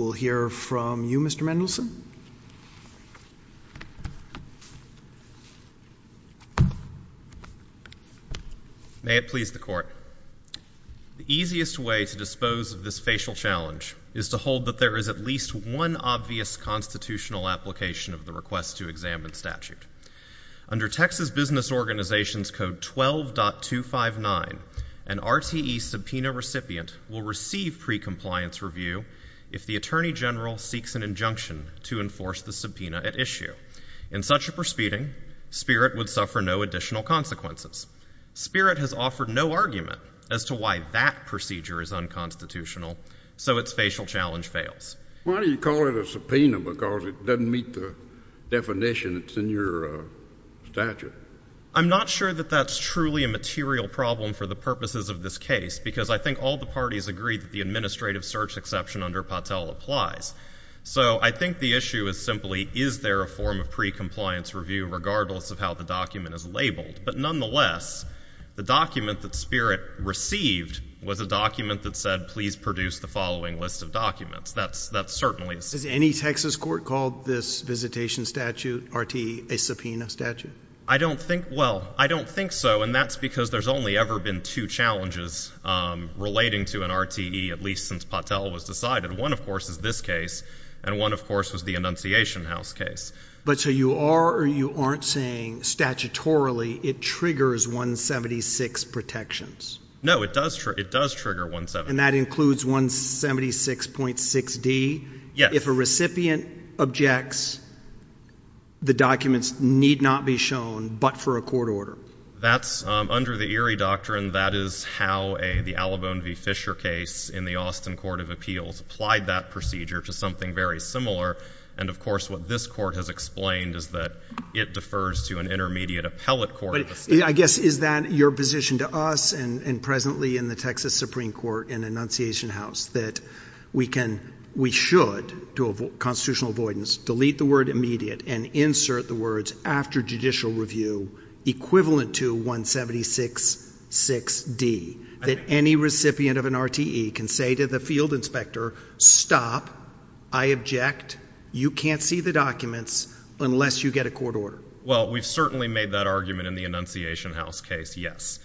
We'll hear from you, Mr. Mendelsohn. May it please the Court, the easiest way to dispose of this facial challenge is to hold that there is at least one obvious constitutional application of the request to examine statute. Under Texas Business Organizations Code 12.259, an RTE subpoena recipient will receive pre-compliance review if the Attorney General seeks an injunction to enforce the subpoena at issue. In such a proceeding, Spirit would suffer no additional consequences. Spirit has offered no argument as to why that procedure is unconstitutional, so its facial challenge fails. Why do you call it a subpoena because it doesn't meet the definition that's in your statute? I'm not sure that that's truly a material problem for the purposes of this case because I think all the parties agree that the administrative search exception under Patel applies. So I think the issue is simply, is there a form of pre-compliance review regardless of how the document is labeled? But nonetheless, the document that Spirit received was a document that said, please produce the following list of documents. That's certainly — Has any Texas court called this visitation statute, RTE, a subpoena statute? I don't think — well, I don't think so, and that's because there's only ever been two challenges relating to an RTE, at least since Patel was decided. One, of course, is this case, and one, of course, was the Annunciation House case. But so you are or you aren't saying, statutorily, it triggers 176 protections? No, it does trigger 176. And that includes 176.6d? Yes. If a recipient objects, the documents need not be shown but for a court order? That's — under the Erie doctrine, that is how the Alavone v. Fisher case in the Austin Court of Appeals applied that procedure to something very similar. And of course, what this Court has explained is that it defers to an intermediate appellate court. But I guess, is that your position to us and presently in the Texas Supreme Court and Annunciation House, that we can — we should, to constitutional avoidance, delete the word immediate and insert the words after judicial review, equivalent to 176.6d, that any recipient of an RTE can say to the field inspector, stop, I object, you can't see the documents unless you get a court order? Well, we've certainly made that argument in the Annunciation House case, yes.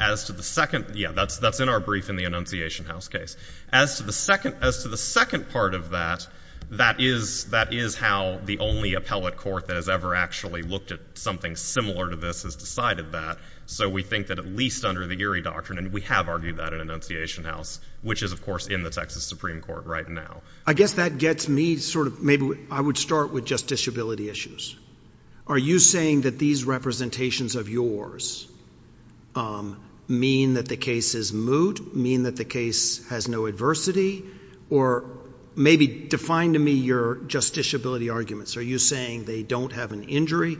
As to the second — yeah, that's in our brief in the Annunciation House case. As to the second — as to the second part of that, that is — that is how the only appellate court that has ever actually looked at something similar to this has decided that. So we think that at least under the Erie doctrine — and we have argued that in Annunciation House, which is, of course, in the Texas Supreme Court right now. I guess that gets me sort of — maybe I would start with just disability issues. Are you saying that these representations of yours mean that the case is moot, mean that the case has no adversity? Or maybe define to me your justiciability arguments. Are you saying they don't have an injury,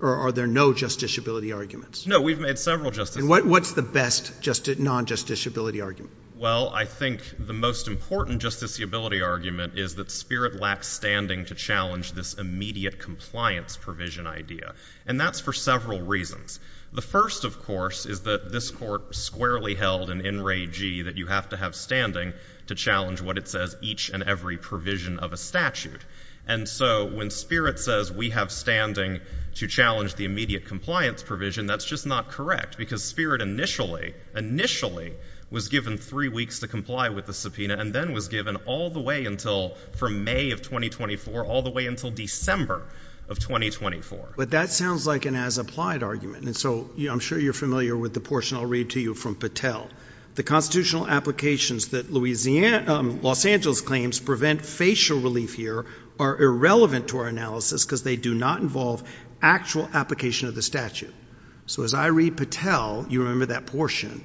or are there no justiciability arguments? No, we've made several justiciability — And what's the best non-justiciability argument? Well, I think the most important justiciability argument is that Spirit lacks standing to challenge this immediate compliance provision idea. And that's for several reasons. The first, of course, is that this court squarely held in In Re G that you have to have standing to challenge what it says each and every provision of a statute. And so when Spirit says we have standing to challenge the immediate compliance provision, that's just not correct, because Spirit initially — initially was given three weeks to comply with the subpoena and then was given all the way until — from May of 2024 all the way until December of 2024. But that sounds like an as-applied argument. And so I'm sure you're familiar with the portion I'll read to you from Patel. The constitutional applications that Louisiana — Los Angeles claims prevent facial relief here are irrelevant to our analysis because they do not involve actual application of the statute. So as I read Patel, you remember that portion.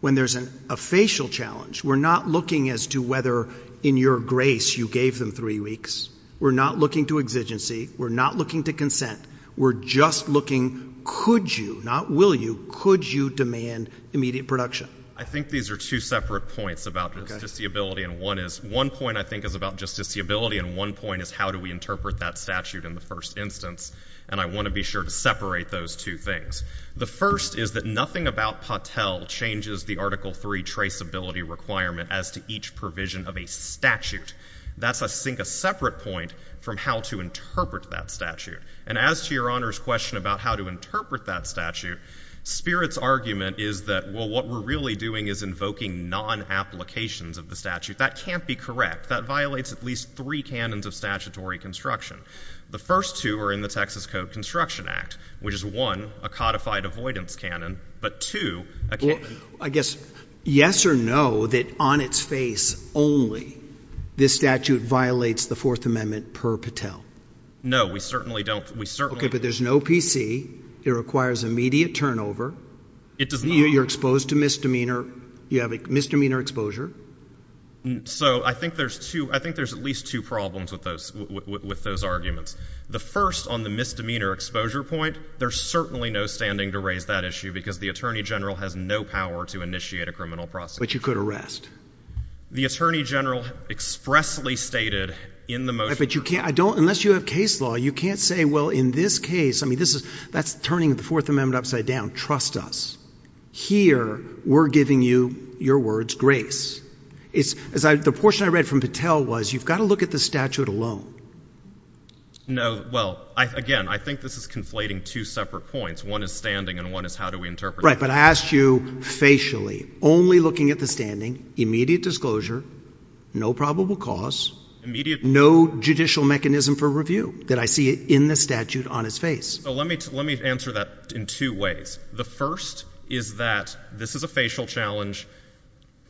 When there's a facial challenge, we're not looking as to whether in your grace you gave them three weeks. We're not looking to exigency. We're not looking to consent. We're just looking, could you — not will you — could you demand immediate production? I think these are two separate points about justiciability, and one is — one point, I think, is about justiciability, and one point is how do we interpret that statute in the first instance. And I want to be sure to separate those two things. The first is that nothing about Patel changes the Article III traceability requirement as to each provision of a statute. That's, I think, a separate point from how to interpret that statute. And as to Your Honor's question about how to interpret that statute, Spirit's argument is that, well, what we're really doing is invoking non-applications of the statute. That can't be correct. That violates at least three canons of statutory construction. The first two are in the Texas Code Construction Act, which is, one, a codified avoidance canon, but two — Well, I guess, yes or no that on its face only this statute violates the Fourth Amendment per Patel? No. We certainly don't. We certainly — Okay. But there's no PC. It requires immediate turnover. It does not. You're exposed to misdemeanor. You have a misdemeanor exposure. So I think there's two — I think there's at least two problems with those arguments. The first, on the misdemeanor exposure point, there's certainly no standing to raise that issue, because the attorney general has no power to initiate a criminal prosecution. But you could arrest. The attorney general expressly stated in the motion — But you can't — I don't — unless you have case law, you can't say, well, in this case — I mean, this is — that's turning the Fourth Amendment upside down. Trust us. Here, we're giving you, your words, grace. It's — the portion I read from Patel was, you've got to look at the statute alone. No. Well, again, I think this is conflating two separate points. One is standing, and one is how do we interpret it. Right. But I asked you facially, only looking at the standing, immediate disclosure, no probable cause — Immediate — No judicial mechanism for review that I see in the statute on its face. So let me answer that in two ways. The first is that this is a facial challenge.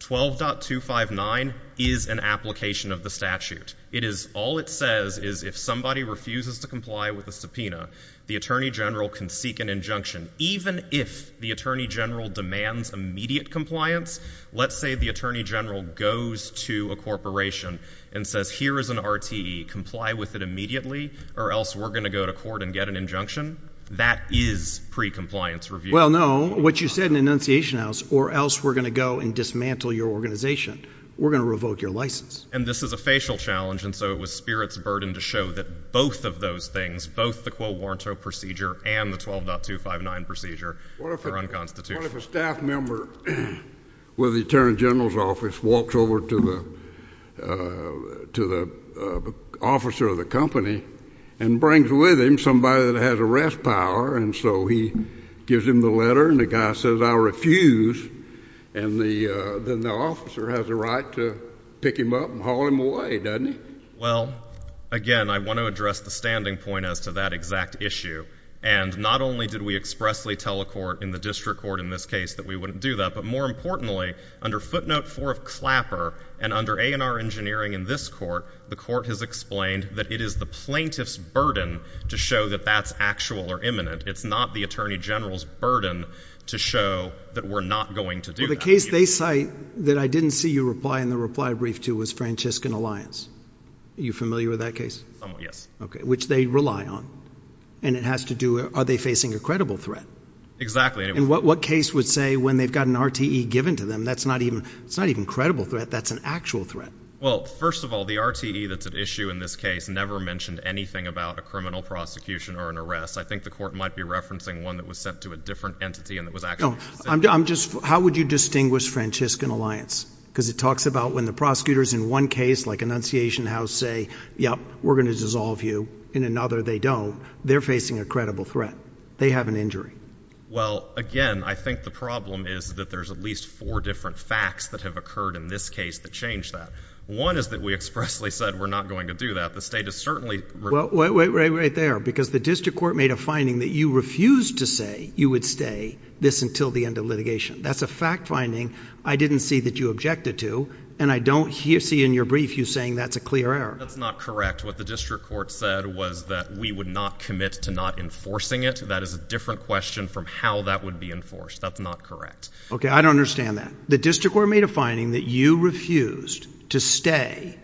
12.259 is an application of the statute. It is — all it says is if somebody refuses to comply with a subpoena, the attorney general can seek an injunction. Even if the attorney general demands immediate compliance, let's say the attorney general goes to a corporation and says, here is an RTE, comply with it immediately, or else we're going to go to court and get an injunction, that is pre-compliance review. Well, no. What you said in Annunciation House, or else we're going to go and dismantle your organization. We're going to revoke your license. And this is a facial challenge, and so it was Spirit's burden to show that both of those things, both the Quo Warranto procedure and the 12.259 procedure, are unconstitutional. What if a staff member with the attorney general's office walks over to the officer of the company and brings with him somebody that has arrest power, and so he gives him the letter and the guy says, I refuse, and then the officer has a right to pick him up and haul him away, doesn't he? Well, again, I want to address the standing point as to that exact issue. And not only did we expressly tell a court in the district court in this case that we wouldn't do that, but more importantly, under footnote four of Clapper, and under A&R Engineering in this court, the court has explained that it is the plaintiff's burden to show that that's actual or imminent. It's not the attorney general's burden to show that we're not going to do that. Well, the case they cite that I didn't see you reply in the reply brief to was Franciscan Alliance. Are you familiar with that case? Yes. Okay. Which they rely on. And it has to do with, are they facing a credible threat? Exactly. And what case would say when they've got an RTE given to them, that's not even, it's not even a credible threat, that's an actual threat. Well, first of all, the RTE that's at issue in this case never mentioned anything about a criminal prosecution or an arrest. I think the court might be referencing one that was sent to a different entity and that was actually sent to the city. No, I'm just, how would you distinguish Franciscan Alliance? Because it talks about when the prosecutors in one case like Annunciation House say, yep, we're going to dissolve you. In another, they don't. They're facing a credible threat. They have an injury. Well, again, I think the problem is that there's at least four different facts that have occurred in this case that changed that. One is that we expressly said we're not going to do that. The state is certainly. Well, wait, wait, wait, right there. Because the district court made a finding that you refused to say you would stay this until the end of litigation. That's a fact finding. I didn't see that you objected to, and I don't see in your brief you saying that's a clear error. That's not correct. What the district court said was that we would not commit to not enforcing it. That is a different question from how that would be enforced. That's not correct. Okay. I don't understand that. The district court made a finding that you refused to stay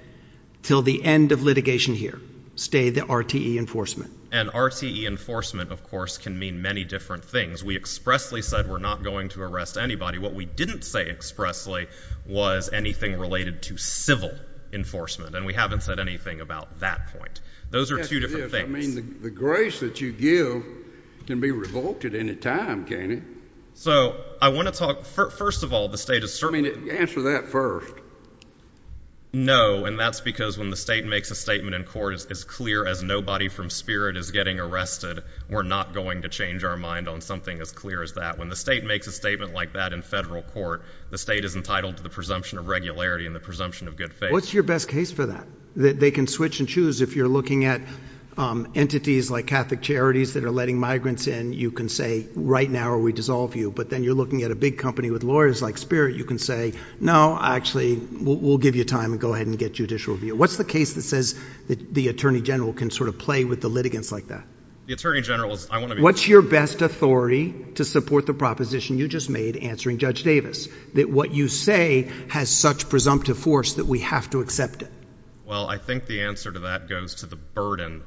till the end of litigation here. Stay the RTE enforcement. And RTE enforcement, of course, can mean many different things. We expressly said we're not going to arrest anybody. What we didn't say expressly was anything related to civil enforcement, and we haven't said anything about that point. Those are two different things. I mean, the grace that you give can be revoked at any time, can't it? So I want to talk. First of all, the state is certainly. I mean, answer that first. No, and that's because when the state makes a statement in court as clear as nobody from spirit is getting arrested, we're not going to change our mind on something as clear as that. When the state makes a statement like that in federal court, the state is entitled to the presumption of regularity and the presumption of good faith. What's your best case for that? They can switch and choose if you're looking at entities like Catholic charities that are letting migrants in, you can say right now or we dissolve you. But then you're looking at a big company with lawyers like spirit. You can say, no, actually, we'll give you time and go ahead and get judicial review. What's the case that says that the attorney general can sort of play with the litigants like that? The attorney general is. I want to. What's your best authority to support the proposition you just made answering Judge Davis that what you say has such presumptive force that we have to accept it? Well, I think the answer to that goes to the burden.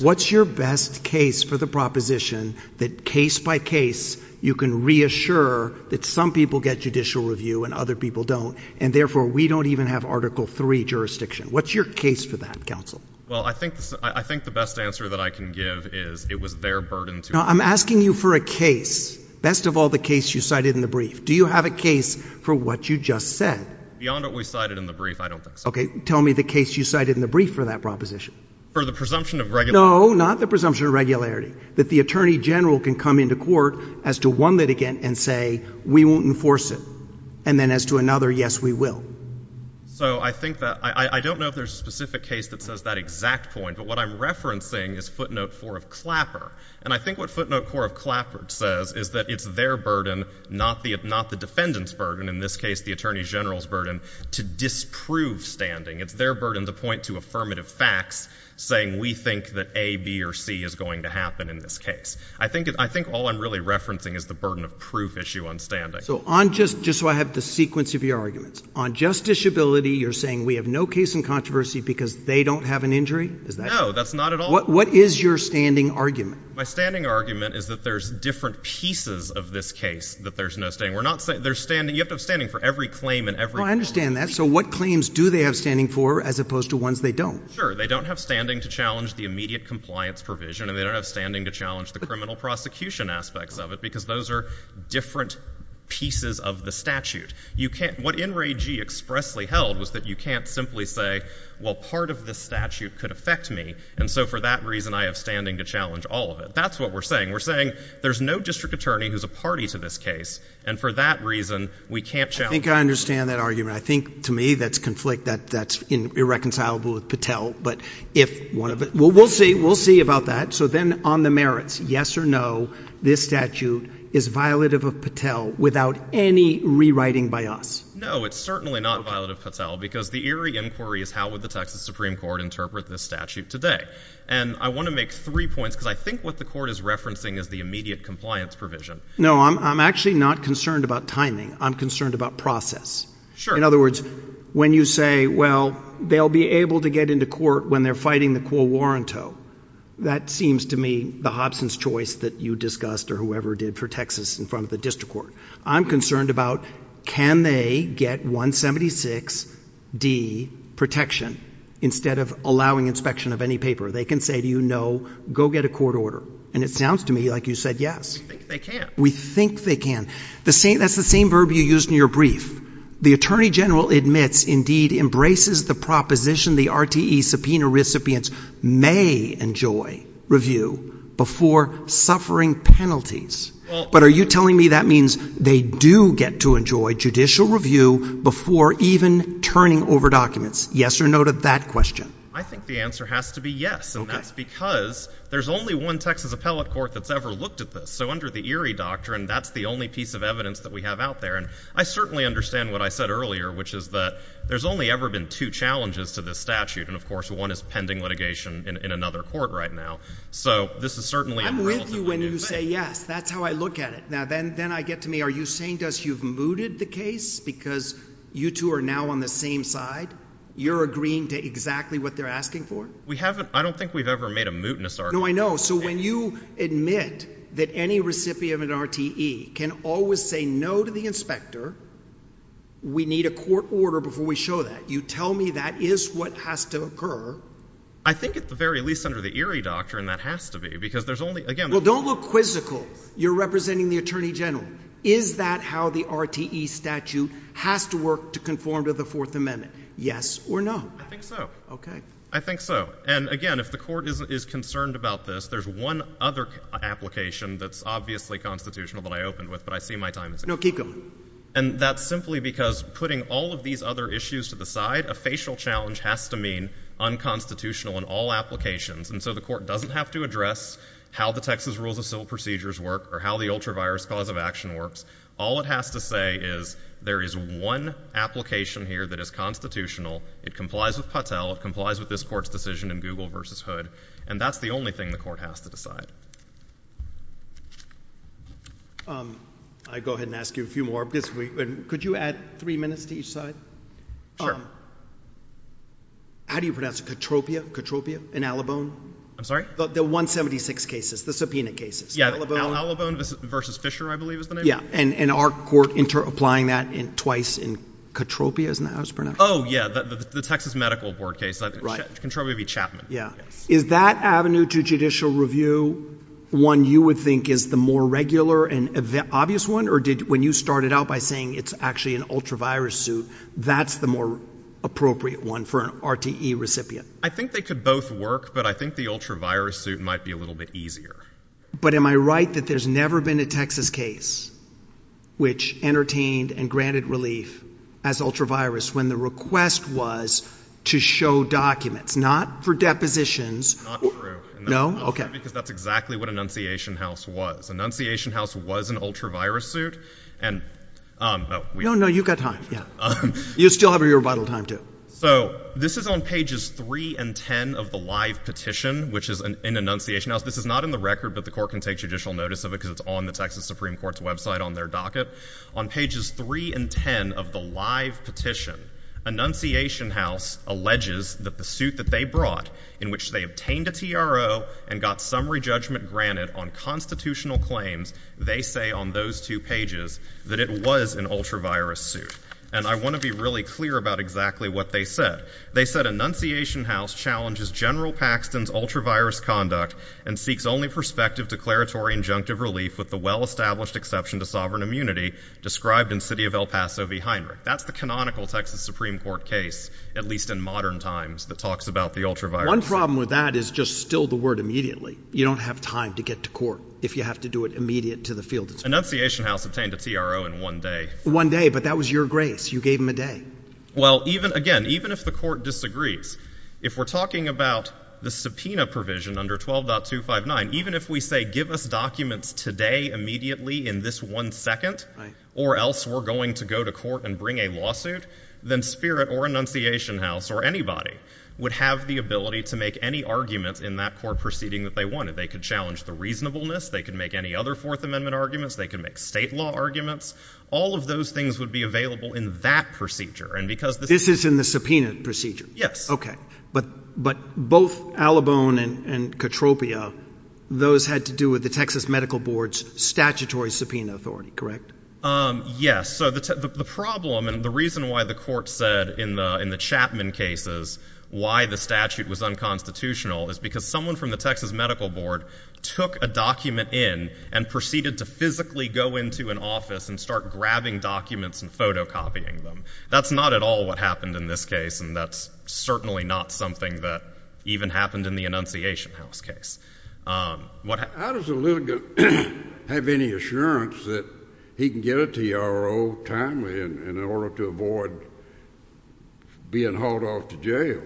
What's your best case for the proposition that case by case, you can reassure that some people get judicial review and other people don't. And therefore, we don't even have Article three jurisdiction. What's your case for that? Counsel? Well, I think I think the best answer that I can give is it was their burden to. I'm asking you for a case. Best of all, the case you cited in the brief. Do you have a case for what you just said beyond what we cited in the brief? I don't think so. Tell me the case you cited in the brief for that proposition for the presumption of. No, not the presumption of regularity that the attorney general can come into court as to one litigant and say, we won't enforce it. And then as to another, yes, we will. So I think that I don't know if there's a specific case that says that exact point, but what I'm referencing is footnote four of Clapper. And I think what footnote four of Clapper says is that it's their burden, not the not the defendant's burden, in this case, the attorney general's burden to disprove standing. It's their burden to point to affirmative facts, saying we think that A, B or C is going to happen in this case. I think I think all I'm really referencing is the burden of proof issue on standing. So on just just so I have the sequence of your arguments, on justiciability, you're saying we have no case in controversy because they don't have an injury? Is that? No, that's not at all. What is your standing argument? My standing argument is that there's different pieces of this case that there's no standing. We're not saying they're standing. You have to have standing for every claim and every claim. I understand that. So what claims do they have standing for as opposed to ones they don't? Sure. They don't have standing to challenge the immediate compliance provision and they don't have standing to challenge the criminal prosecution aspects of it because those are different pieces of the statute. You can't what NRAG expressly held was that you can't simply say, well, part of the statute could affect me. And so for that reason, I have standing to challenge all of it. That's what we're saying. We're saying there's no district attorney who's a party to this case. And for that reason, we can't challenge I think I understand that argument. I think to me, that's conflict that that's irreconcilable with Patel. But if one of it we'll we'll see. We'll see about that. So then on the merits, yes or no, this statute is violative of Patel without any rewriting by us? No, it's certainly not violative Patel because the eerie inquiry is how would the Texas Supreme Court interpret this statute today? And I want to make three points because I think what the court is referencing is the immediate compliance provision. No, I'm actually not concerned about timing. I'm concerned about process. Sure. In other words, when you say, well, they'll be able to get into court when they're fighting the quo warranto. That seems to me the Hobson's choice that you discussed or whoever did for Texas in front of the district court. I'm concerned about can they get 176 D protection instead of allowing inspection of any paper? They can say to you, no, go get a court order. And it sounds to me like you said, yes, they can. We think they can. The same that's the same verb you use in your brief. The attorney general admits indeed embraces the proposition. The RTE subpoena recipients may enjoy review before suffering penalties. But are you telling me that means they do get to enjoy judicial review before even turning over documents? Yes or no to that question? I think the answer has to be yes, and that's because there's only one Texas appellate court that's ever looked at this. So under the eerie doctrine, that's the only piece of evidence that we have out there. And I certainly understand what I said earlier, which is that there's only ever been two challenges to this statute. And of course, one is pending litigation in another court right now. So this is certainly I'm with you when you say yes. That's how I look at it. Now. Then I get to me. Are you saying to us you've mooted the case because you two are now on the same side? You're agreeing to exactly what they're asking for. We haven't. I don't think we've ever made a mootness. No, I know. So when you admit that any recipient of an RTE can always say no to the inspector. We need a court order before we show that. You tell me that is what has to occur. I think at the very least under the eerie doctrine, that has to be because there's only again. Well, don't look quizzical. You're representing the attorney general. Is that how the RTE statute has to work to conform to the Fourth Amendment? Yes or no? I think so. Okay. I think so. And again, if the court is concerned about this, there's one other application that's obviously constitutional that I opened with, but I see my time is up. No, keep going. And that's simply because putting all of these other issues to the side, a facial challenge has to mean unconstitutional in all applications. And so the court doesn't have to address how the Texas rules of civil procedures work or how the ultra virus cause of action works. All it has to say is there is one application here that is constitutional. It complies with Patel. It complies with this court's decision in Google versus Hood. And that's the only thing the court has to decide. I go ahead and ask you a few more. Could you add three minutes to each side? Sure. How do you pronounce it? Katropia? Katropia? And Alabone? I'm sorry? The 176 cases. The subpoena cases. Yeah. Alabone versus Fisher, I believe, is the name. Yeah. And our court interapplying that twice in Katropia, isn't that how it's pronounced? Oh, yeah. The Texas Medical Board case. Right. Katropia v. Chapman. Yeah. Is that avenue to judicial review one you would think is the more regular and obvious one? Or did when you started out by saying it's actually an ultra virus suit, that's the more appropriate one for an RTE recipient? I think they could both work, but I think the ultra virus suit might be a little bit easier. But am I right that there's never been a Texas case which entertained and granted relief as ultra virus? When the request was to show documents, not for depositions. Not true. No? Okay. Because that's exactly what an enunciation house was. An enunciation house was an ultra virus suit. And we... No, no. You've got time. Yeah. You still have your rebuttal time too. So this is on pages three and 10 of the live petition, which is an enunciation house. This is not in the record, but the court can take judicial notice of it because it's on the Texas Supreme Court's website on their docket. On pages three and 10 of the live petition, enunciation house alleges that the suit that they brought in which they obtained a TRO and got summary judgment granted on constitutional claims, they say on those two pages that it was an ultra virus suit. And I want to be really clear about exactly what they said. They said enunciation house challenges general Paxton's ultra virus conduct and seeks only prospective declaratory injunctive relief with the well-established exception to sovereign immunity described in city of El Paso v Heinrich. That's the canonical Texas Supreme Court case, at least in modern times, that talks about the ultra virus. One problem with that is just still the word immediately. You don't have time to get to court if you have to do it immediate to the field. Enunciation house obtained a TRO in one day. One day. But that was your grace. You gave him a day. Well, even again, even if the court disagrees, if we're talking about the subpoena provision under 12.259, even if we say give us documents today, immediately in this one second or else we're going to go to court and bring a lawsuit, then spirit or enunciation house or anybody would have the ability to make any arguments in that court proceeding that they wanted. They could challenge the reasonableness. They can make any other fourth amendment arguments. They can make state law arguments. All of those things would be available in that procedure. And because this is in the subpoena procedure. Yes. Okay. But both Alabone and Katropia, those had to do with the Texas Medical Board's statutory subpoena authority. Correct? Yes. So the problem and the reason why the court said in the Chapman cases why the statute was unconstitutional is because someone from the Texas Medical Board took a document in and proceeded to physically go into an office and start grabbing documents and photocopying them. That's not at all what happened in this case, and that's certainly not something that even happened in the enunciation house case. How does a litigant have any assurance that he can get a TRO timely in order to avoid being hauled off to jail?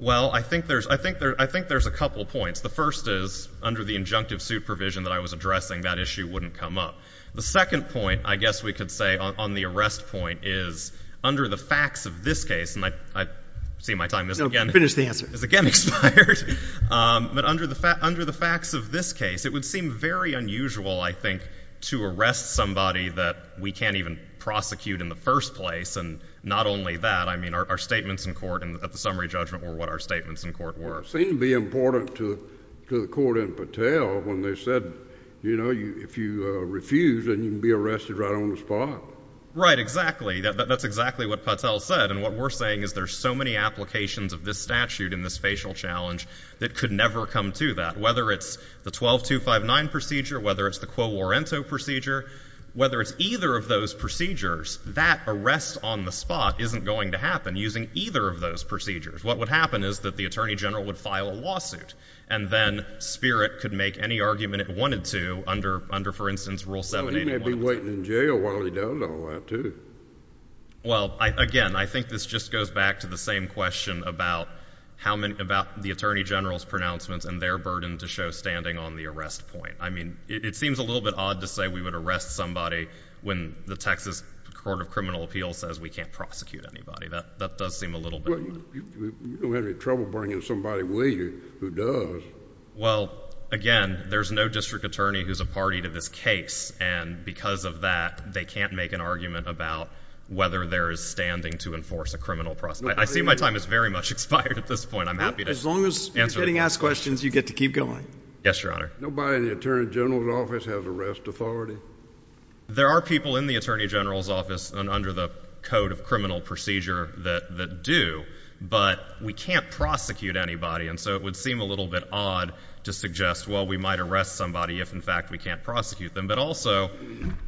Well I think there's a couple points. The first is under the injunctive suit provision that I was addressing, that issue wouldn't come up. The second point, I guess we could say on the arrest point, is under the facts of this case, and I see my time has again expired, but under the facts of this case, it would seem very unusual, I think, to arrest somebody that we can't even prosecute in the first place. And not only that, I mean our statements in court at the summary judgment were what our statements in court were. It seemed to be important to the court in Patel when they said, you know, if you refuse, then you can be arrested right on the spot. Right, exactly. That's exactly what Patel said, and what we're saying is there's so many applications of this statute in this facial challenge that could never come to that. Whether it's the 12259 procedure, whether it's the Quo Warento procedure, whether it's either of those procedures, that arrest on the spot isn't going to happen using either of those procedures. What would happen is that the Attorney General would file a lawsuit, and then Spirit could make any argument it wanted to under, for instance, Rule 781 of the Texas Constitution. So he may be waiting in jail while he does all that, too. Well, again, I think this just goes back to the same question about the Attorney General's pronouncements and their burden to show standing on the arrest point. I mean, it seems a little bit odd to say we would arrest somebody when the Texas Court of Criminal Appeals says we can't prosecute anybody. That does seem a little bit odd. You don't have any trouble bringing in somebody, will you, who does? Well, again, there's no district attorney who's a party to this case, and because of that, they can't make an argument about whether there is standing to enforce a criminal process. I see my time has very much expired at this point. I'm happy to answer— As long as you're getting asked questions, you get to keep going. Yes, Your Honor. Nobody in the Attorney General's office has arrest authority? There are people in the Attorney General's office and under the Code of Criminal Procedure that do, but we can't prosecute anybody, and so it would seem a little bit odd to suggest, well, we might arrest somebody if, in fact, we can't prosecute them. But also,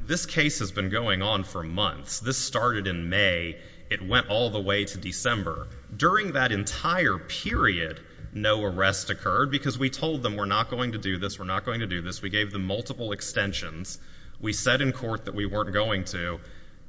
this case has been going on for months. This started in May. It went all the way to December. During that entire period, no arrest occurred because we told them we're not going to do this, we're not going to do this. We gave them multiple extensions. We said in court that we weren't going to.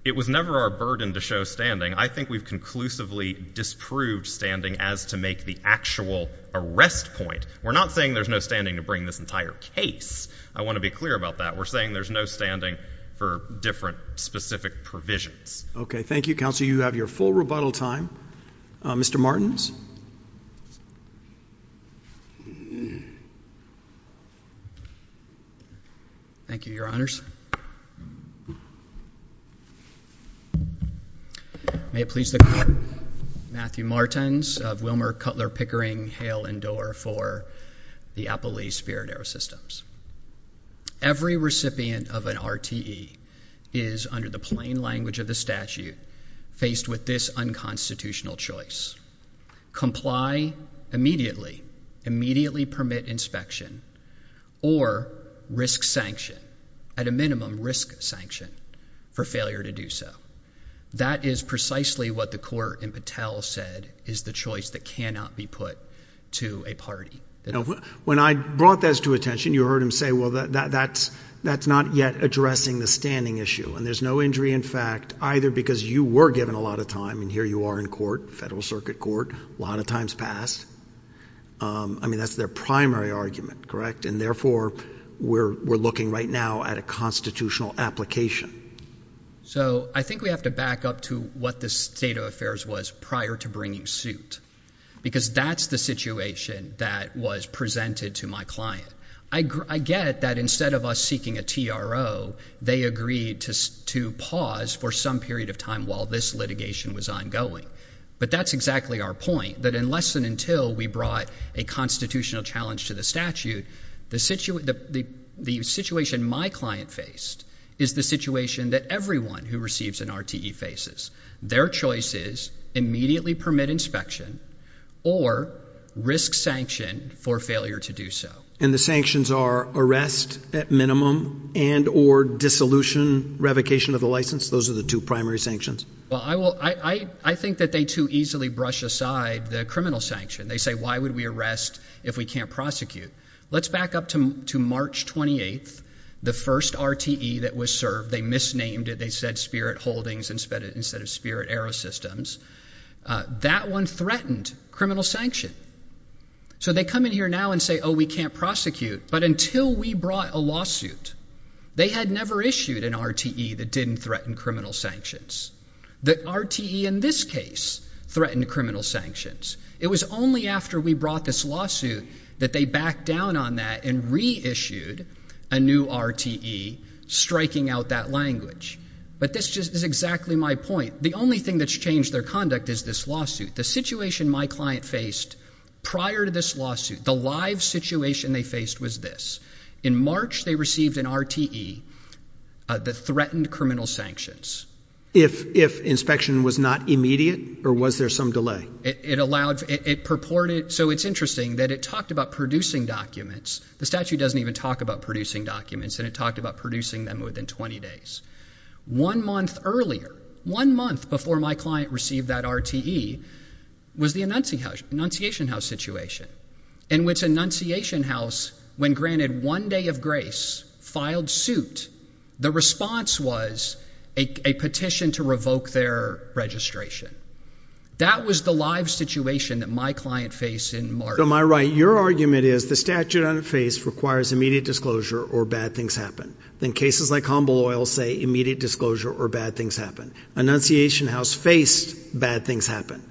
It was never our burden to show standing. I think we've conclusively disproved standing as to make the actual arrest point. We're not saying there's no standing to bring this entire case. I want to be clear about that. We're saying there's no standing for different specific provisions. Okay. Thank you, counsel. You have your full rebuttal time. Mr. Martins? Thank you, Your Honors. May it please the Court, Matthew Martins of Wilmer, Cutler, Pickering, Hale, and Dorr for the Appelee Spirit Air Systems. Every recipient of an RTE is, under the plain language of the statute, faced with this unconstitutional choice. Comply immediately, immediately permit inspection, or risk sanction, at a minimum risk sanction, for failure to do so. That is precisely what the court in Patel said is the choice that cannot be put to a party. When I brought this to attention, you heard him say, well, that's not yet addressing the standing issue. And there's no injury in fact, either because you were given a lot of time, and here you are in court, federal circuit court, a lot of times passed. I mean, that's their primary argument, correct? And therefore, we're looking right now at a constitutional application. So I think we have to back up to what the state of affairs was prior to bringing suit. Because that's the situation that was presented to my client. I get that instead of us seeking a TRO, they agreed to pause for some period of time while this litigation was ongoing. But that's exactly our point, that unless and until we brought a constitutional challenge to the statute, the situation my client faced is the situation that everyone who receives an RTE faces. Their choice is, immediately permit inspection, or risk sanction for failure to do so. And the sanctions are arrest at minimum, and or dissolution, revocation of the license. Those are the two primary sanctions. Well, I think that they too easily brush aside the criminal sanction. They say, why would we arrest if we can't prosecute? Let's back up to March 28th, the first RTE that was served, they misnamed it, they said Spirit Holdings instead of Spirit Aerosystems. That one threatened criminal sanction. So they come in here now and say, oh, we can't prosecute. But until we brought a lawsuit, they had never issued an RTE that didn't threaten criminal sanctions. The RTE in this case threatened criminal sanctions. It was only after we brought this lawsuit that they backed down on that and reissued a new RTE, striking out that language. But this is exactly my point. The only thing that's changed their conduct is this lawsuit. The situation my client faced prior to this lawsuit, the live situation they faced was this. In March, they received an RTE that threatened criminal sanctions. If inspection was not immediate, or was there some delay? It allowed, it purported, so it's interesting that it talked about producing documents. The statute doesn't even talk about producing documents, and it talked about producing them within 20 days. One month earlier, one month before my client received that RTE, was the Annunciation House situation, in which Annunciation House, when granted one day of grace, filed suit. The response was a petition to revoke their registration. That was the live situation that my client faced in March. Am I right? Your argument is the statute on its face requires immediate disclosure or bad things happen. In cases like Humble Oil, say, immediate disclosure or bad things happen. Annunciation House faced bad things happen.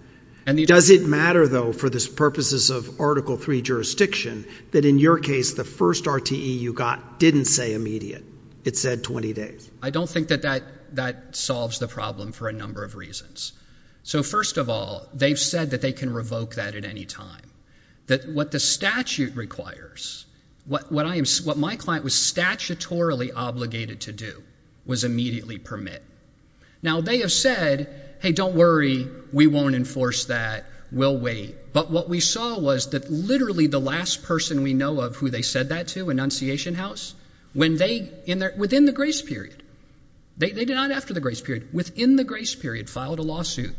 Does it matter, though, for the purposes of Article III jurisdiction, that in your case, the first RTE you got didn't say immediate? It said 20 days. I don't think that that solves the problem for a number of reasons. So first of all, they've said that they can revoke that at any time. What the statute requires, what my client was statutorily obligated to do, was immediately permit. Now, they have said, hey, don't worry, we won't enforce that, we'll wait. But what we saw was that literally the last person we know of who they said that to, Annunciation House, within the grace period, they did not after the grace period, within the grace period filed a lawsuit,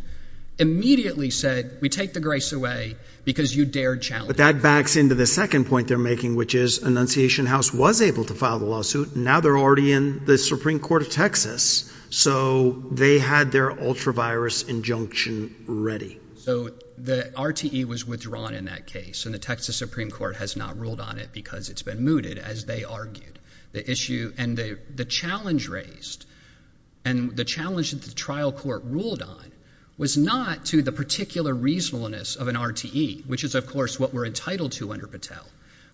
immediately said, we take the grace away because you dared challenge. That backs into the second point they're making, which is Annunciation House was able to file the lawsuit. Now they're already in the Supreme Court of Texas. So they had their ultra-virus injunction ready. So the RTE was withdrawn in that case, and the Texas Supreme Court has not ruled on it because it's been mooted, as they argued. The issue and the challenge raised, and the challenge that the trial court ruled on, was not to the particular reasonableness of an RTE, which is of course what we're entitled to under Patel.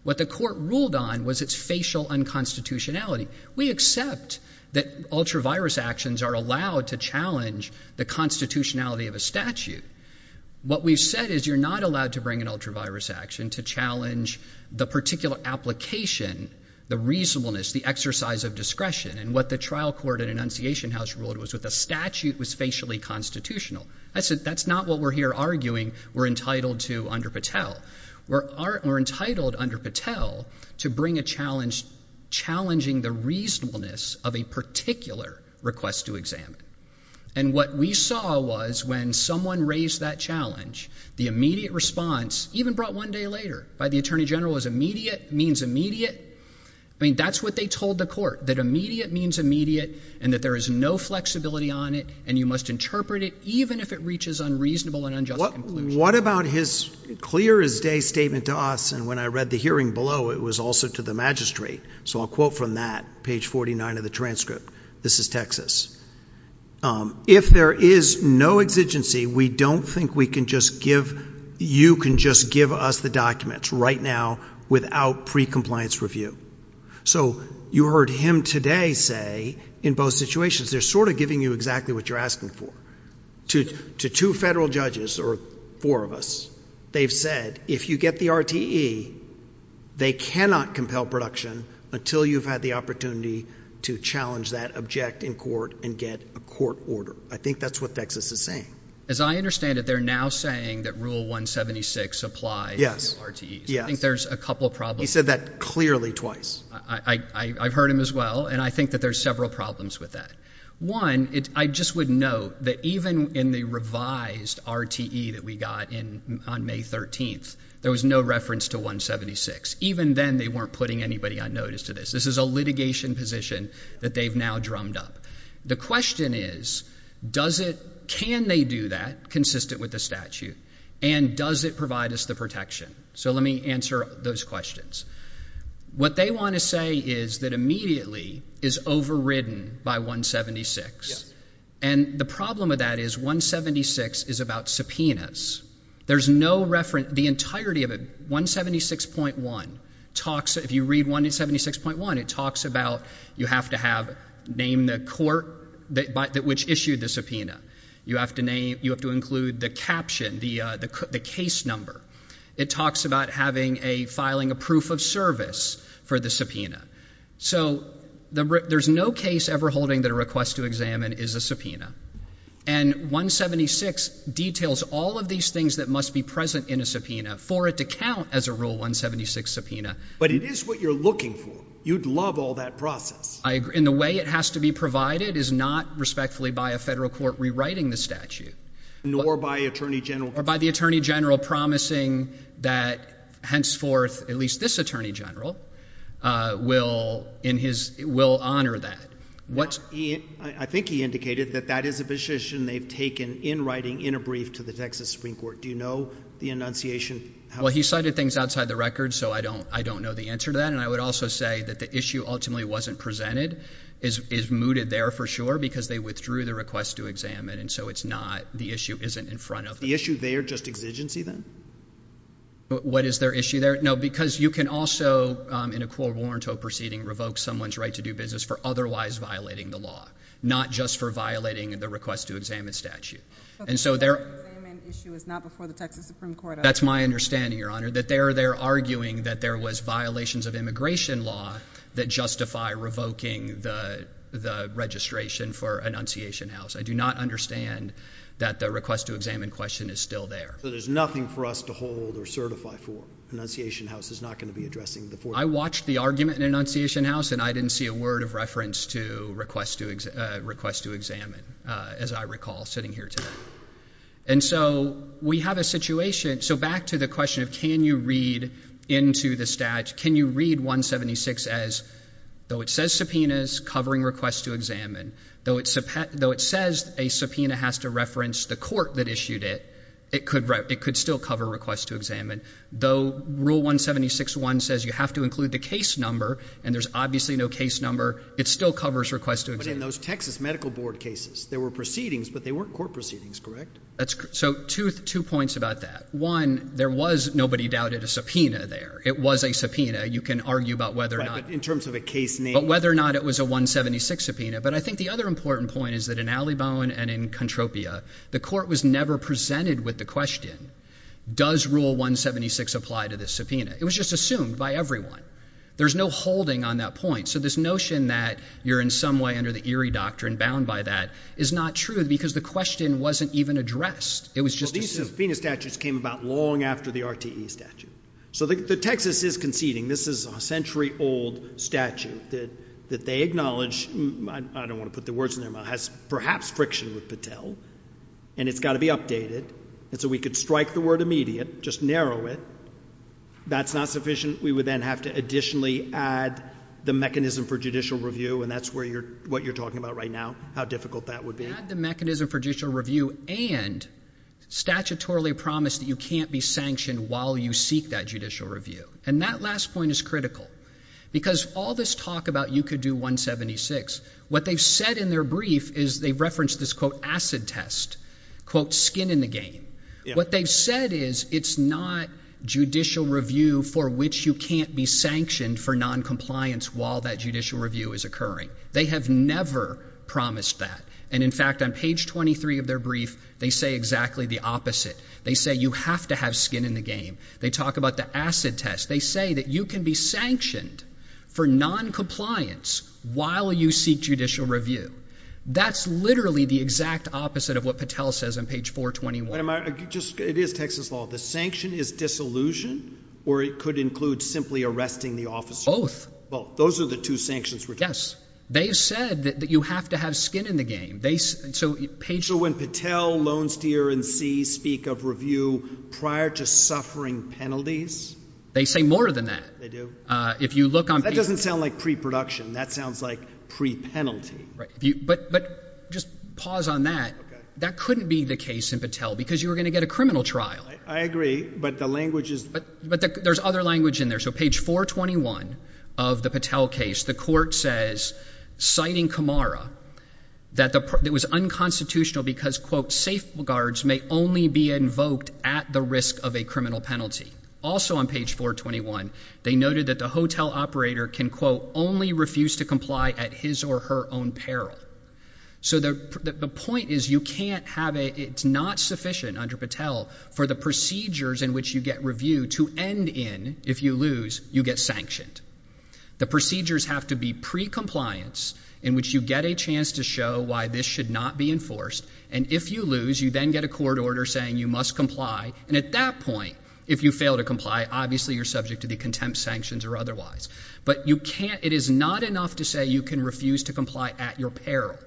What the court ruled on was its facial unconstitutionality. We accept that ultra-virus actions are allowed to challenge the constitutionality of a statute. What we've said is you're not allowed to bring an ultra-virus action to challenge the particular application, the reasonableness, the exercise of discretion, and what the trial court at Annunciation House ruled was that the statute was facially constitutional. I said that's not what we're here arguing we're entitled to under Patel. We're entitled under Patel to bring a challenge challenging the reasonableness of a particular request to examine. And what we saw was when someone raised that challenge, the immediate response, even brought one day later, by the Attorney General, is immediate, means immediate, I mean, that's what they told the court, that immediate means immediate, and that there is no flexibility on it, and you must interpret it even if it reaches unreasonable and unjust conclusion. What about his clear as day statement to us, and when I read the hearing below, it was also to the magistrate, so I'll quote from that, page 49 of the transcript. This is Texas. If there is no exigency, we don't think we can just give, you can just give us the documents right now without precompliance review. So you heard him today say, in both situations, they're sort of giving you exactly what you're asking for. To two federal judges, or four of us, they've said if you get the RTE, they cannot compel production until you've had the opportunity to challenge that, object in court, and get a court order. I think that's what Texas is saying. As I understand it, they're now saying that Rule 176 applies to RTEs. Yes. I think there's a couple of problems. He said that clearly twice. I've heard him as well, and I think that there's several problems with that. One, I just would note that even in the revised RTE that we got on May 13th, there was no reference to 176. Even then, they weren't putting anybody on notice to this. This is a litigation position that they've now drummed up. The question is, does it, can they do that, consistent with the statute, and does it provide us the protection? So let me answer those questions. What they want to say is that immediately is overridden by 176, and the problem with that is 176 is about subpoenas. There's no reference, the entirety of it, 176.1, talks, if you read 176.1, it talks about you have to have, name the court which issued the subpoena. You have to name, you have to include the caption, the case number. It talks about having a, filing a proof of service for the subpoena. So there's no case ever holding that a request to examine is a subpoena, and 176 details all of these things that must be present in a subpoena for it to count as a Rule 176 subpoena. But it is what you're looking for. You'd love all that process. I agree. And the way it has to be provided is not respectfully by a federal court rewriting the statute. Nor by Attorney General. Or by the Attorney General promising that henceforth, at least this Attorney General, will in his, will honor that. What's... He, I think he indicated that that is a position they've taken in writing, in a brief, to the Texas Supreme Court. Do you know the enunciation? Well, he cited things outside the record, so I don't, I don't know the answer to that. And I would also say that the issue ultimately wasn't presented is, is mooted there for sure because they withdrew the request to examine. And so it's not, the issue isn't in front of them. The issue there, just exigency then? What is their issue there? No, because you can also, in a court warrant or proceeding, revoke someone's right to do business for otherwise violating the law. Not just for violating the request to examine statute. And so their... The request to examine issue is not before the Texas Supreme Court. That's my understanding, your honor. That they're, they're arguing that there was violations of immigration law that justify revoking the, the registration for enunciation house. I do not understand that the request to examine question is still there. So there's nothing for us to hold or certify for. Enunciation house is not going to be addressing the... I watched the argument in enunciation house and I didn't see a word of reference to request to examine, as I recall sitting here today. And so we have a situation, so back to the question of can you read into the statute, can you read 176 as, though it says subpoenas covering requests to examine, though it says a subpoena has to reference the court that issued it, it could still cover requests to examine, though rule 176.1 says you have to include the case number and there's obviously no case number, it still covers requests to examine. But in those Texas Medical Board cases, there were proceedings, but they weren't court proceedings, correct? That's... So two, two points about that. One, there was, nobody doubted, a subpoena there. It was a subpoena. You can argue about whether or not... In terms of a case name. But whether or not it was a 176 subpoena. But I think the other important point is that in Alibon and in Contropia, the court was never presented with the question. Does rule 176 apply to this subpoena? It was just assumed by everyone. There's no holding on that point. So this notion that you're in some way under the Erie Doctrine bound by that is not true because the question wasn't even addressed. It was just assumed. Well, these subpoena statutes came about long after the RTE statute. So the Texas is conceding, this is a century old statute that they acknowledge, I don't want to put the words in their mouth, has perhaps friction with Patel, and it's got to be updated. And so we could strike the word immediate, just narrow it. That's not sufficient. We would then have to additionally add the mechanism for judicial review, and that's where you're, what you're talking about right now, how difficult that would be. Add the mechanism for judicial review and statutorily promise that you can't be sanctioned while you seek that judicial review. And that last point is critical. Because all this talk about you could do 176, what they've said in their brief is they've referenced this quote acid test, quote skin in the game. What they've said is it's not judicial review for which you can't be sanctioned for noncompliance while that judicial review is occurring. They have never promised that. And in fact, on page 23 of their brief, they say exactly the opposite. They say you have to have skin in the game. They talk about the acid test. They say that you can be sanctioned for noncompliance while you seek judicial review. That's literally the exact opposite of what Patel says on page 421. Wait a minute. Just, it is Texas law. The sanction is disillusion or it could include simply arresting the officer? Both. Both. Those are the two sanctions. Yes. They've said that you have to have skin in the game. They, so page. So when Patel, Lone Steer and See speak of review prior to suffering penalties. They say more than that. They do? If you look on. That doesn't sound like pre-production. That sounds like pre-penalty. Right. But, but just pause on that. That couldn't be the case in Patel because you were going to get a criminal trial. I agree, but the language is. But there's other language in there. So page 421 of the Patel case, the court says, citing Camara, that it was unconstitutional because quote safeguards may only be invoked at the risk of a criminal penalty. Also on page 421, they noted that the hotel operator can quote only refuse to comply at his or her own peril. So the point is you can't have a, it's not sufficient under Patel for the procedures in which you get reviewed to end in. If you lose, you get sanctioned. The procedures have to be pre-compliance in which you get a chance to show why this should not be enforced. And if you lose, you then get a court order saying you must comply. And at that point, if you fail to comply, obviously you're subject to the contempt sanctions or otherwise. But you can't, it is not enough to say you can refuse to comply at your peril.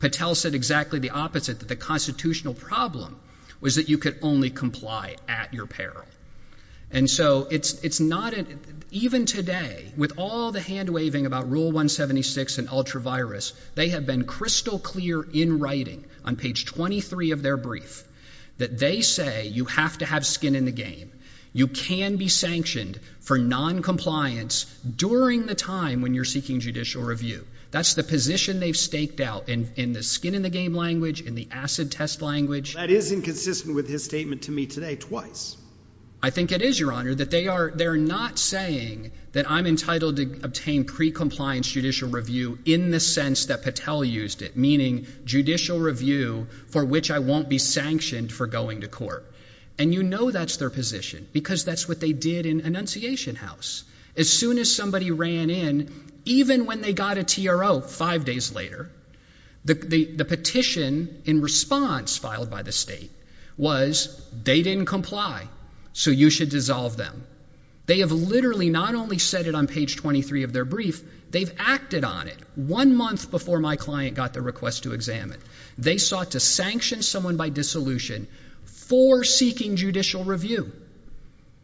Patel said exactly the opposite, that the constitutional problem was that you could only comply at your peril. And so it's not, even today, with all the hand-waving about Rule 176 and ultra-virus, they have been crystal clear in writing on page 23 of their brief that they say you have to have skin in the game. You can be sanctioned for noncompliance during the time when you're seeking judicial review. That's the position they've staked out in the skin in the game language, in the acid test language. That is inconsistent with his statement to me today, twice. I think it is, Your Honor, that they are, they're not saying that I'm entitled to obtain pre-compliance judicial review in the sense that Patel used it, meaning judicial review for which I won't be sanctioned for going to court. And you know that's their position, because that's what they did in Annunciation House. As soon as somebody ran in, even when they got a TRO five days later, the petition in response filed by the state was, they didn't comply, so you should dissolve them. They have literally not only said it on page 23 of their brief, they've acted on it. One month before my client got the request to examine, they sought to sanction someone by dissolution for seeking judicial review.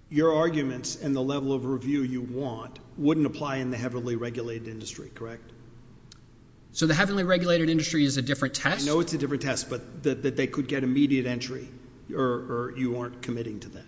Your arguments and the level of review you want wouldn't apply in the heavily regulated industry, correct? So the heavily regulated industry is a different test? I know it's a different test, but that they could get immediate entry, or you aren't committing to that?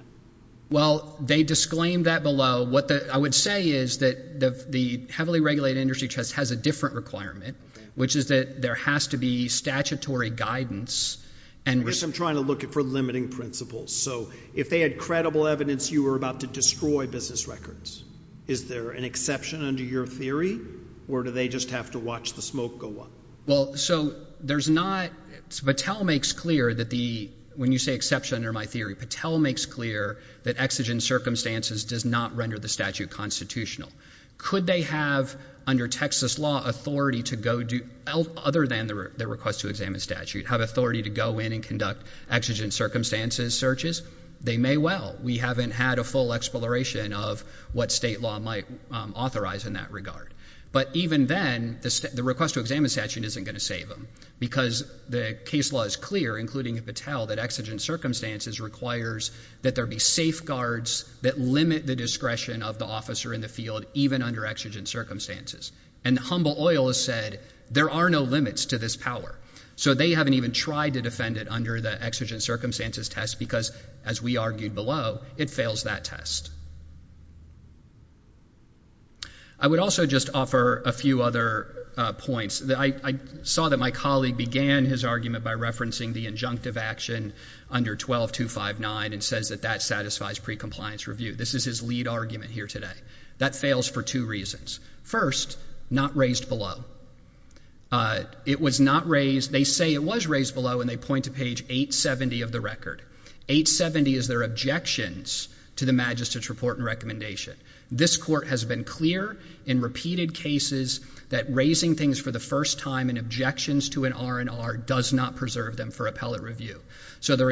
Well, they disclaimed that below. What I would say is that the heavily regulated industry test has a different requirement, which is that there has to be statutory guidance. And I guess I'm trying to look for limiting principles. So if they had credible evidence, you were about to destroy business records. Is there an exception under your theory, or do they just have to watch the smoke go up? Well, so there's not, Patel makes clear that the, when you say exception under my theory, Patel makes clear that exigent circumstances does not render the statute constitutional. Could they have, under Texas law, authority to go do, other than the request to examine statute, have authority to go in and conduct exigent circumstances searches? They may well. We haven't had a full exploration of what state law might authorize in that regard. But even then, the request to examine statute isn't going to save them, because the case law is clear, including Patel, that exigent circumstances requires that there be safeguards that limit the discretion of the officer in the field, even under exigent circumstances. And Humble Oil has said, there are no limits to this power. So they haven't even tried to defend it under the exigent circumstances test, because, as we argued below, it fails that test. I would also just offer a few other points. I saw that my colleague began his argument by referencing the injunctive action under 12.259 and says that that satisfies pre-compliance review. This is his lead argument here today. That fails for two reasons. First, not raised below. It was not raised, they say it was raised below, and they point to page 870 of the record. 870 is their objections to the magistrate's report and recommendation. This court has been clear in repeated cases that raising things for the first time in objections to an R&R does not preserve them for appellate review. So their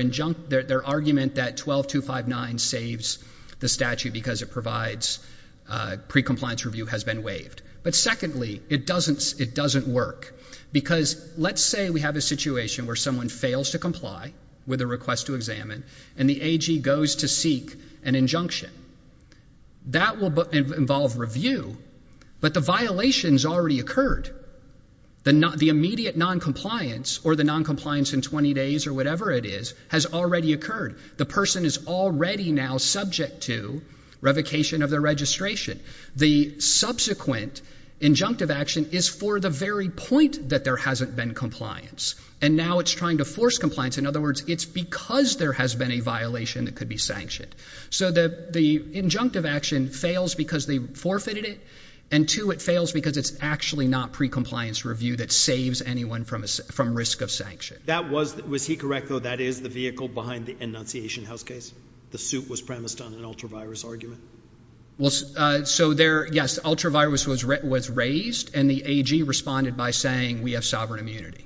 argument that 12.259 saves the statute because it provides pre-compliance review has been waived. But secondly, it doesn't work, because let's say we have a situation where someone fails to comply with a request to examine, and the AG goes to seek an injunction. That will involve review, but the violation's already occurred. The immediate non-compliance, or the non-compliance in 20 days or whatever it is, has already occurred. The person is already now subject to revocation of their registration. The subsequent injunctive action is for the very point that there hasn't been compliance, and now it's trying to force compliance. In other words, it's because there has been a violation that could be sanctioned. So the injunctive action fails because they forfeited it, and two, it fails because it's actually not pre-compliance review that saves anyone from risk of sanction. That was, was he correct though, that is the vehicle behind the Annunciation House case? The suit was premised on an ultra-virus argument? Well, so there, yes, ultra-virus was raised, and the AG responded by saying, we have sovereign immunity.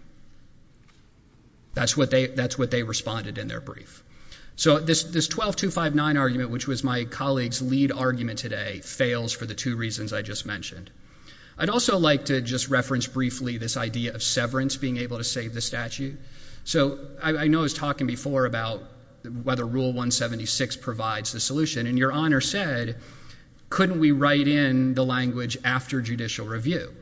That's what they, that's what they responded in their brief. So this 12.259 argument, which was my colleague's lead argument today, fails for the two reasons I just mentioned. I'd also like to just reference briefly this idea of severance being able to save the statute. So I know I was talking before about whether Rule 176 provides the solution, and Your Honor said, couldn't we write in the language after judicial review?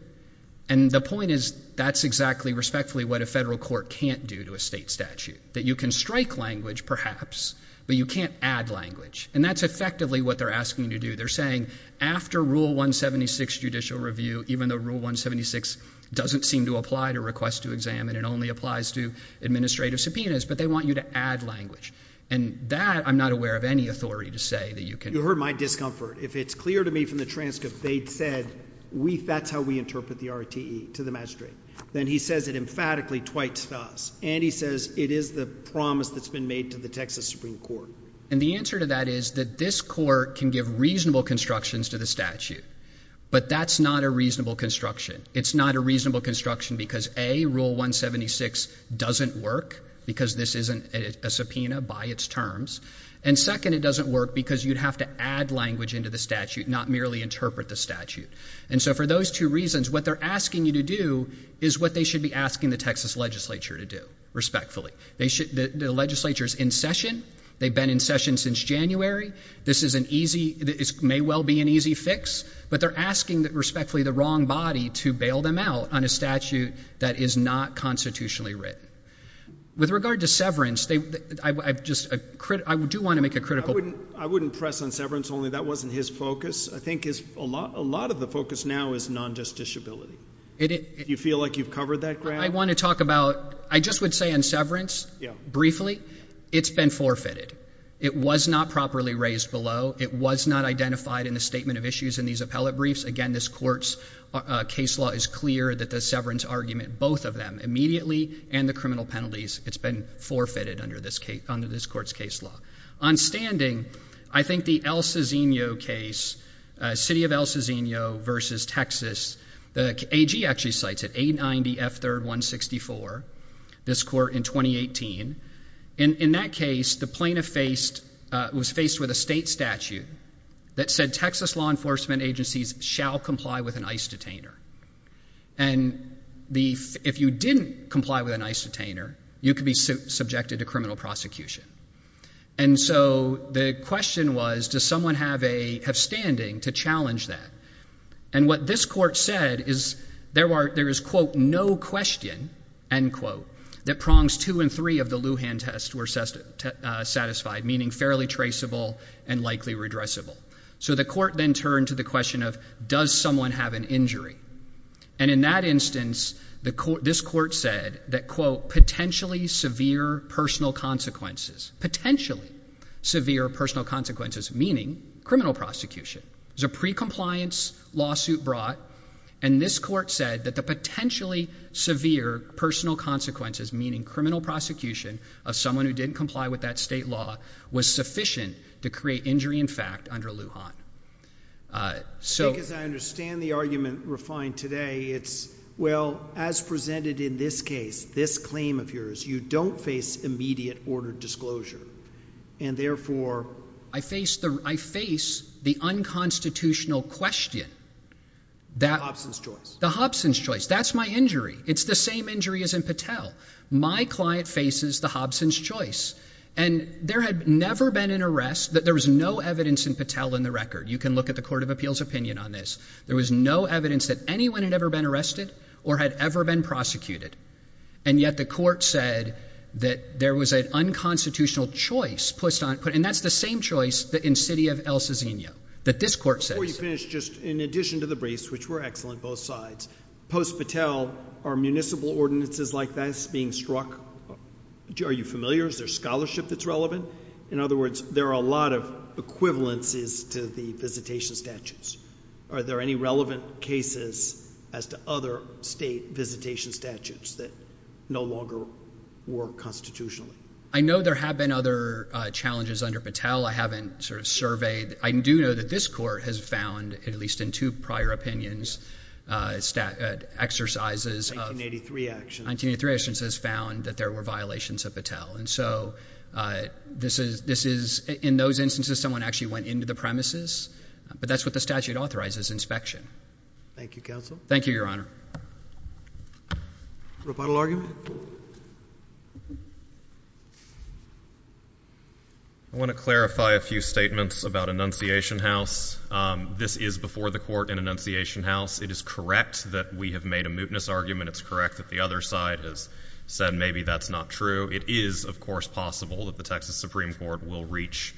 And the point is, that's exactly respectfully what a federal court can't do to a state statute, that you can strike language perhaps, but you can't add language. And that's effectively what they're asking you to do. They're saying, after Rule 176 judicial review, even though Rule 176 doesn't seem to apply to requests to examine, it only applies to administrative subpoenas, but they want you to add language. And that, I'm not aware of any authority to say that you can. You heard my discomfort. If it's clear to me from the transcript, they'd said, we, that's how we interpret the RTE, to the magistrate. Then he says it emphatically twice thus, and he says, it is the promise that's been made to the Texas Supreme Court. And the answer to that is, that this court can give reasonable constructions to the statute, but that's not a reasonable construction. It's not a reasonable construction because A, Rule 176 doesn't work, because this isn't a subpoena by its terms, and second, it doesn't work because you'd have to add language into the statute, not merely interpret the statute. And so for those two reasons, what they're asking you to do is what they should be asking the Texas legislature to do, respectfully. They should, the legislature's in session. They've been in session since January. This is an easy, this may well be an easy fix, but they're asking that respectfully the wrong body to bail them out on a statute that is not constitutionally written. With regard to severance, they, I just, I do want to make a critical point. I wouldn't press on severance only. That wasn't his focus. I think his, a lot of the focus now is non-justiciability. You feel like you've covered that ground? I want to talk about, I just would say on severance, briefly, it's been forfeited. It was not properly raised below. It was not identified in the statement of issues in these appellate briefs. Again, this court's case law is clear that the severance argument, both of them, immediately and the criminal penalties, it's been forfeited under this case, under this court's case law. On standing, I think the El Cisino case, City of El Cisino versus Texas, the AG actually cited A90F3164, this court in 2018. In that case, the plaintiff faced, was faced with a state statute that said Texas law enforcement agencies shall comply with an ICE detainer. And if you didn't comply with an ICE detainer, you could be subjected to criminal prosecution. And so the question was, does someone have a, have standing to challenge that? And what this court said is, there are, there is, quote, no question, end quote, that prongs two and three of the Lujan test were satisfied, meaning fairly traceable and likely redressable. So the court then turned to the question of, does someone have an injury? And in that instance, the court, this court said that, quote, potentially severe personal consequences, potentially severe personal consequences, meaning criminal prosecution. It was a pre-compliance lawsuit brought, and this court said that the potentially severe personal consequences, meaning criminal prosecution of someone who didn't comply with that state law was sufficient to create injury in fact under Lujan. So as I understand the argument refined today, it's, well, as presented in this case, this claim of yours, you don't face immediate order disclosure. And therefore, I face the, I face the unconstitutional question that, the Hobson's choice. That's my injury. It's the same injury as in Patel. My client faces the Hobson's choice. And there had never been an arrest that there was no evidence in Patel in the record. You can look at the court of appeals opinion on this. There was no evidence that anyone had ever been arrested or had ever been prosecuted. And yet the court said that there was an unconstitutional choice put on, and that's the same choice that in city of El Ciseno, that this court said. Before we finish, just in addition to the briefs, which were excellent both sides, post-Patel, are municipal ordinances like this being struck? Are you familiar? Is there scholarship that's relevant? In other words, there are a lot of equivalences to the visitation statutes. Are there any relevant cases as to other state visitation statutes that no longer work constitutionally? I know there have been other challenges under Patel. I haven't sort of surveyed. I do know that this court has found, at least in two prior opinions, exercises of 1983 actions, has found that there were violations of Patel. And so this is, in those instances, someone actually went into the premises, but that's what the statute authorizes, inspection. Thank you, Counsel. Thank you, Your Honor. Roboto argument? I want to clarify a few statements about Annunciation House. This is before the court in Annunciation House. It is correct that we have made a mootness argument. It's correct that the other side has said maybe that's not true. It is, of course, possible that the Texas Supreme Court will reach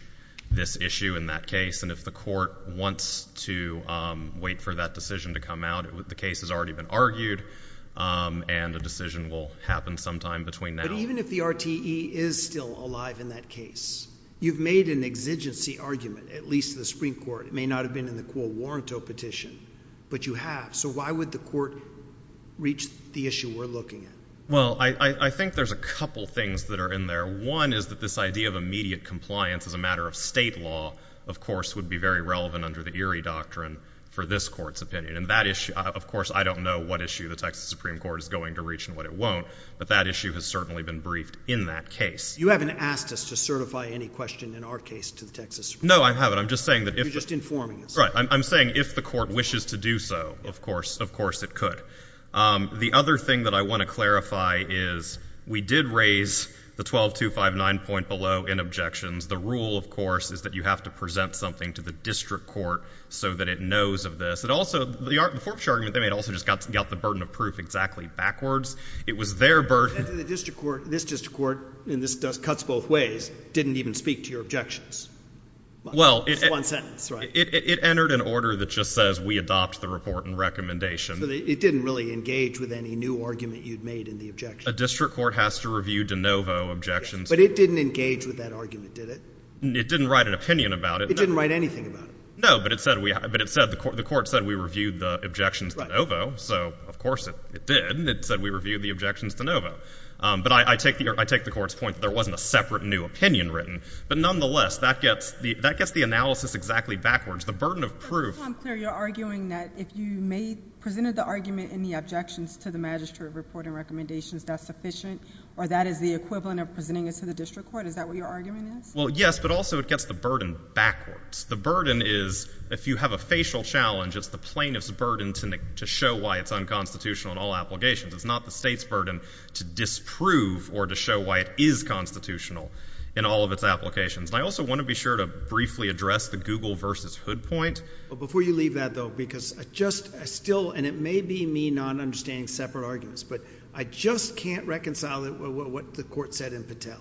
this issue in that case. And if the court wants to wait for that decision to come out, the case has already been argued, and a decision will happen sometime between now and then. But even if the RTE is still alive in that case, you've made an exigency argument, at least to the Supreme Court. It may not have been in the Quo Warranto petition, but you have. So why would the court reach the issue we're looking at? Well, I think there's a couple things that are in there. One is that this idea of immediate compliance as a matter of state law, of course, would be very relevant under the Erie Doctrine for this Court's opinion. And that issue, of course, I don't know what issue the Texas Supreme Court is going to reach and what it won't, but that issue has certainly been briefed in that case. You haven't asked us to certify any question in our case to the Texas Supreme Court. No, I haven't. I'm just saying that if— You're just informing us. Right. I'm saying if the court wishes to do so, of course, it could. The other thing that I want to clarify is we did raise the 12259 point below in objections. The rule, of course, is that you have to present something to the district court so that it knows of this. And also, the forfeiture argument they made also just got the burden of proof exactly backwards. It was their burden— And to the district court, this district court—and this cuts both ways—didn't even speak to your objections. Well, it— It's one sentence, right? It entered an order that just says we adopt the report and recommendation. So it didn't really engage with any new argument you'd made in the objection. A district court has to review de novo objections. But it didn't engage with that argument, did it? It didn't write an opinion about it. It didn't write anything about it. No, but it said we—but it said the court—the court said we reviewed the objections de novo. So, of course, it did. It said we reviewed the objections de novo. But I take the—I take the court's point that there wasn't a separate new opinion written. But nonetheless, that gets the—that gets the analysis exactly backwards. The burden of proof— Tom Clear, you're arguing that if you made—presented the argument in the objections to the magistrate report and recommendations, that's sufficient, or that is the equivalent of presenting it to the district court? Is that what your argument is? Well, yes, but also it gets the burden backwards. The burden is, if you have a facial challenge, it's the plaintiff's burden to show why it's unconstitutional in all applications. It's not the state's burden to disprove or to show why it is constitutional in all of its applications. And I also want to be sure to briefly address the Google versus Hood point. Before you leave that, though, because I just—I still—and it may be me not understanding separate arguments, but I just can't reconcile it with what the court said in Patel,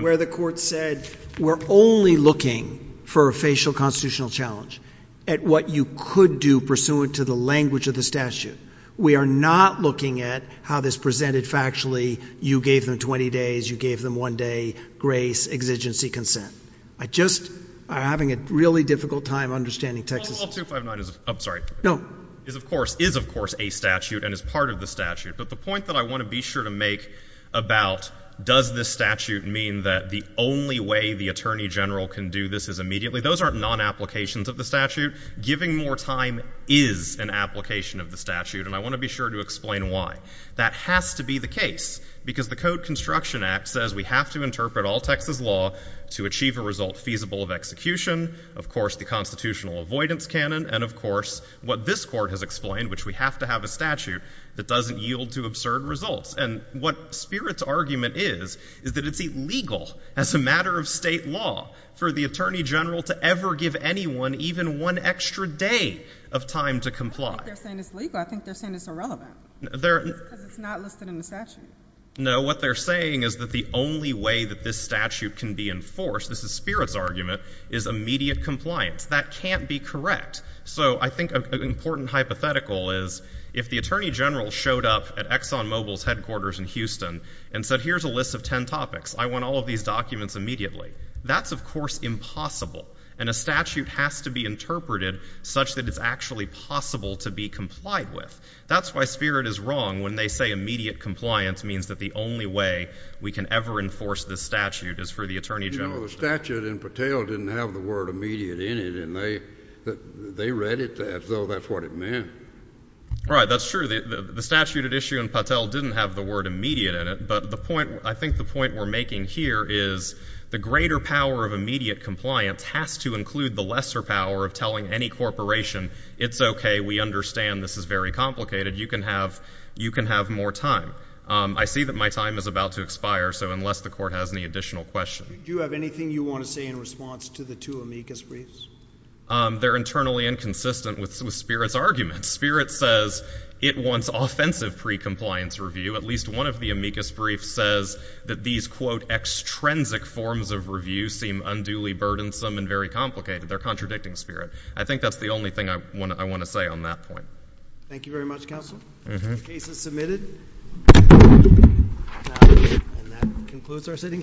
where the court said, we're only looking for a facial constitutional challenge at what you could do pursuant to the language of the statute. We are not looking at how this presented factually. You gave them 20 days. You gave them one day, grace, exigency, consent. I just am having a really difficult time understanding Texas— Well, all 259 is—I'm sorry. No. Is, of course, is, of course, a statute and is part of the statute, but the point that I want to be sure to make about does this statute mean that the only way the attorney general can do this is immediately, those aren't non-applications of the statute. Giving more time is an application of the statute, and I want to be sure to explain why. That has to be the case, because the Code Construction Act says we have to interpret all Texas law to achieve a result feasible of execution, of course, the constitutional avoidance canon, and of course, what this court has explained, which we have to have a statute that doesn't yield to absurd results. And what Spirit's argument is, is that it's illegal as a matter of state law for the attorney general to ever give anyone even one extra day of time to comply. I don't think they're saying it's legal. I think they're saying it's irrelevant. They're— Because it's not listed in the statute. No, what they're saying is that the only way that this statute can be enforced, this is Spirit's argument, is immediate compliance. That can't be correct. So I think an important hypothetical is if the attorney general showed up at Exxon Mobil's headquarters in Houston and said, here's a list of ten topics, I want all of these documents immediately, that's, of course, impossible, and a statute has to be interpreted such that it's actually possible to be complied with. That's why Spirit is wrong when they say immediate compliance means that the only way we can ever enforce this statute is for the attorney general— You know, the statute in Patel didn't have the word immediate in it, and they read it as though that's what it meant. Right, that's true. The statute at issue in Patel didn't have the word immediate in it, but the point—I think the point we're making here is the greater power of immediate compliance has to include the lesser power of telling any corporation, it's okay, we understand, this is very complicated, you can have more time. I see that my time is about to expire, so unless the court has any additional questions— Do you have anything you want to say in response to the two amicus briefs? They're internally inconsistent with Spirit's argument. Spirit says it wants offensive pre-compliance review. At least one of the amicus briefs says that these, quote, extrinsic forms of review seem unduly burdensome and very complicated. They're contradicting Spirit. I think that's the only thing I want to say on that point. Thank you very much, Counsel. The case is submitted, and that concludes our sitting today.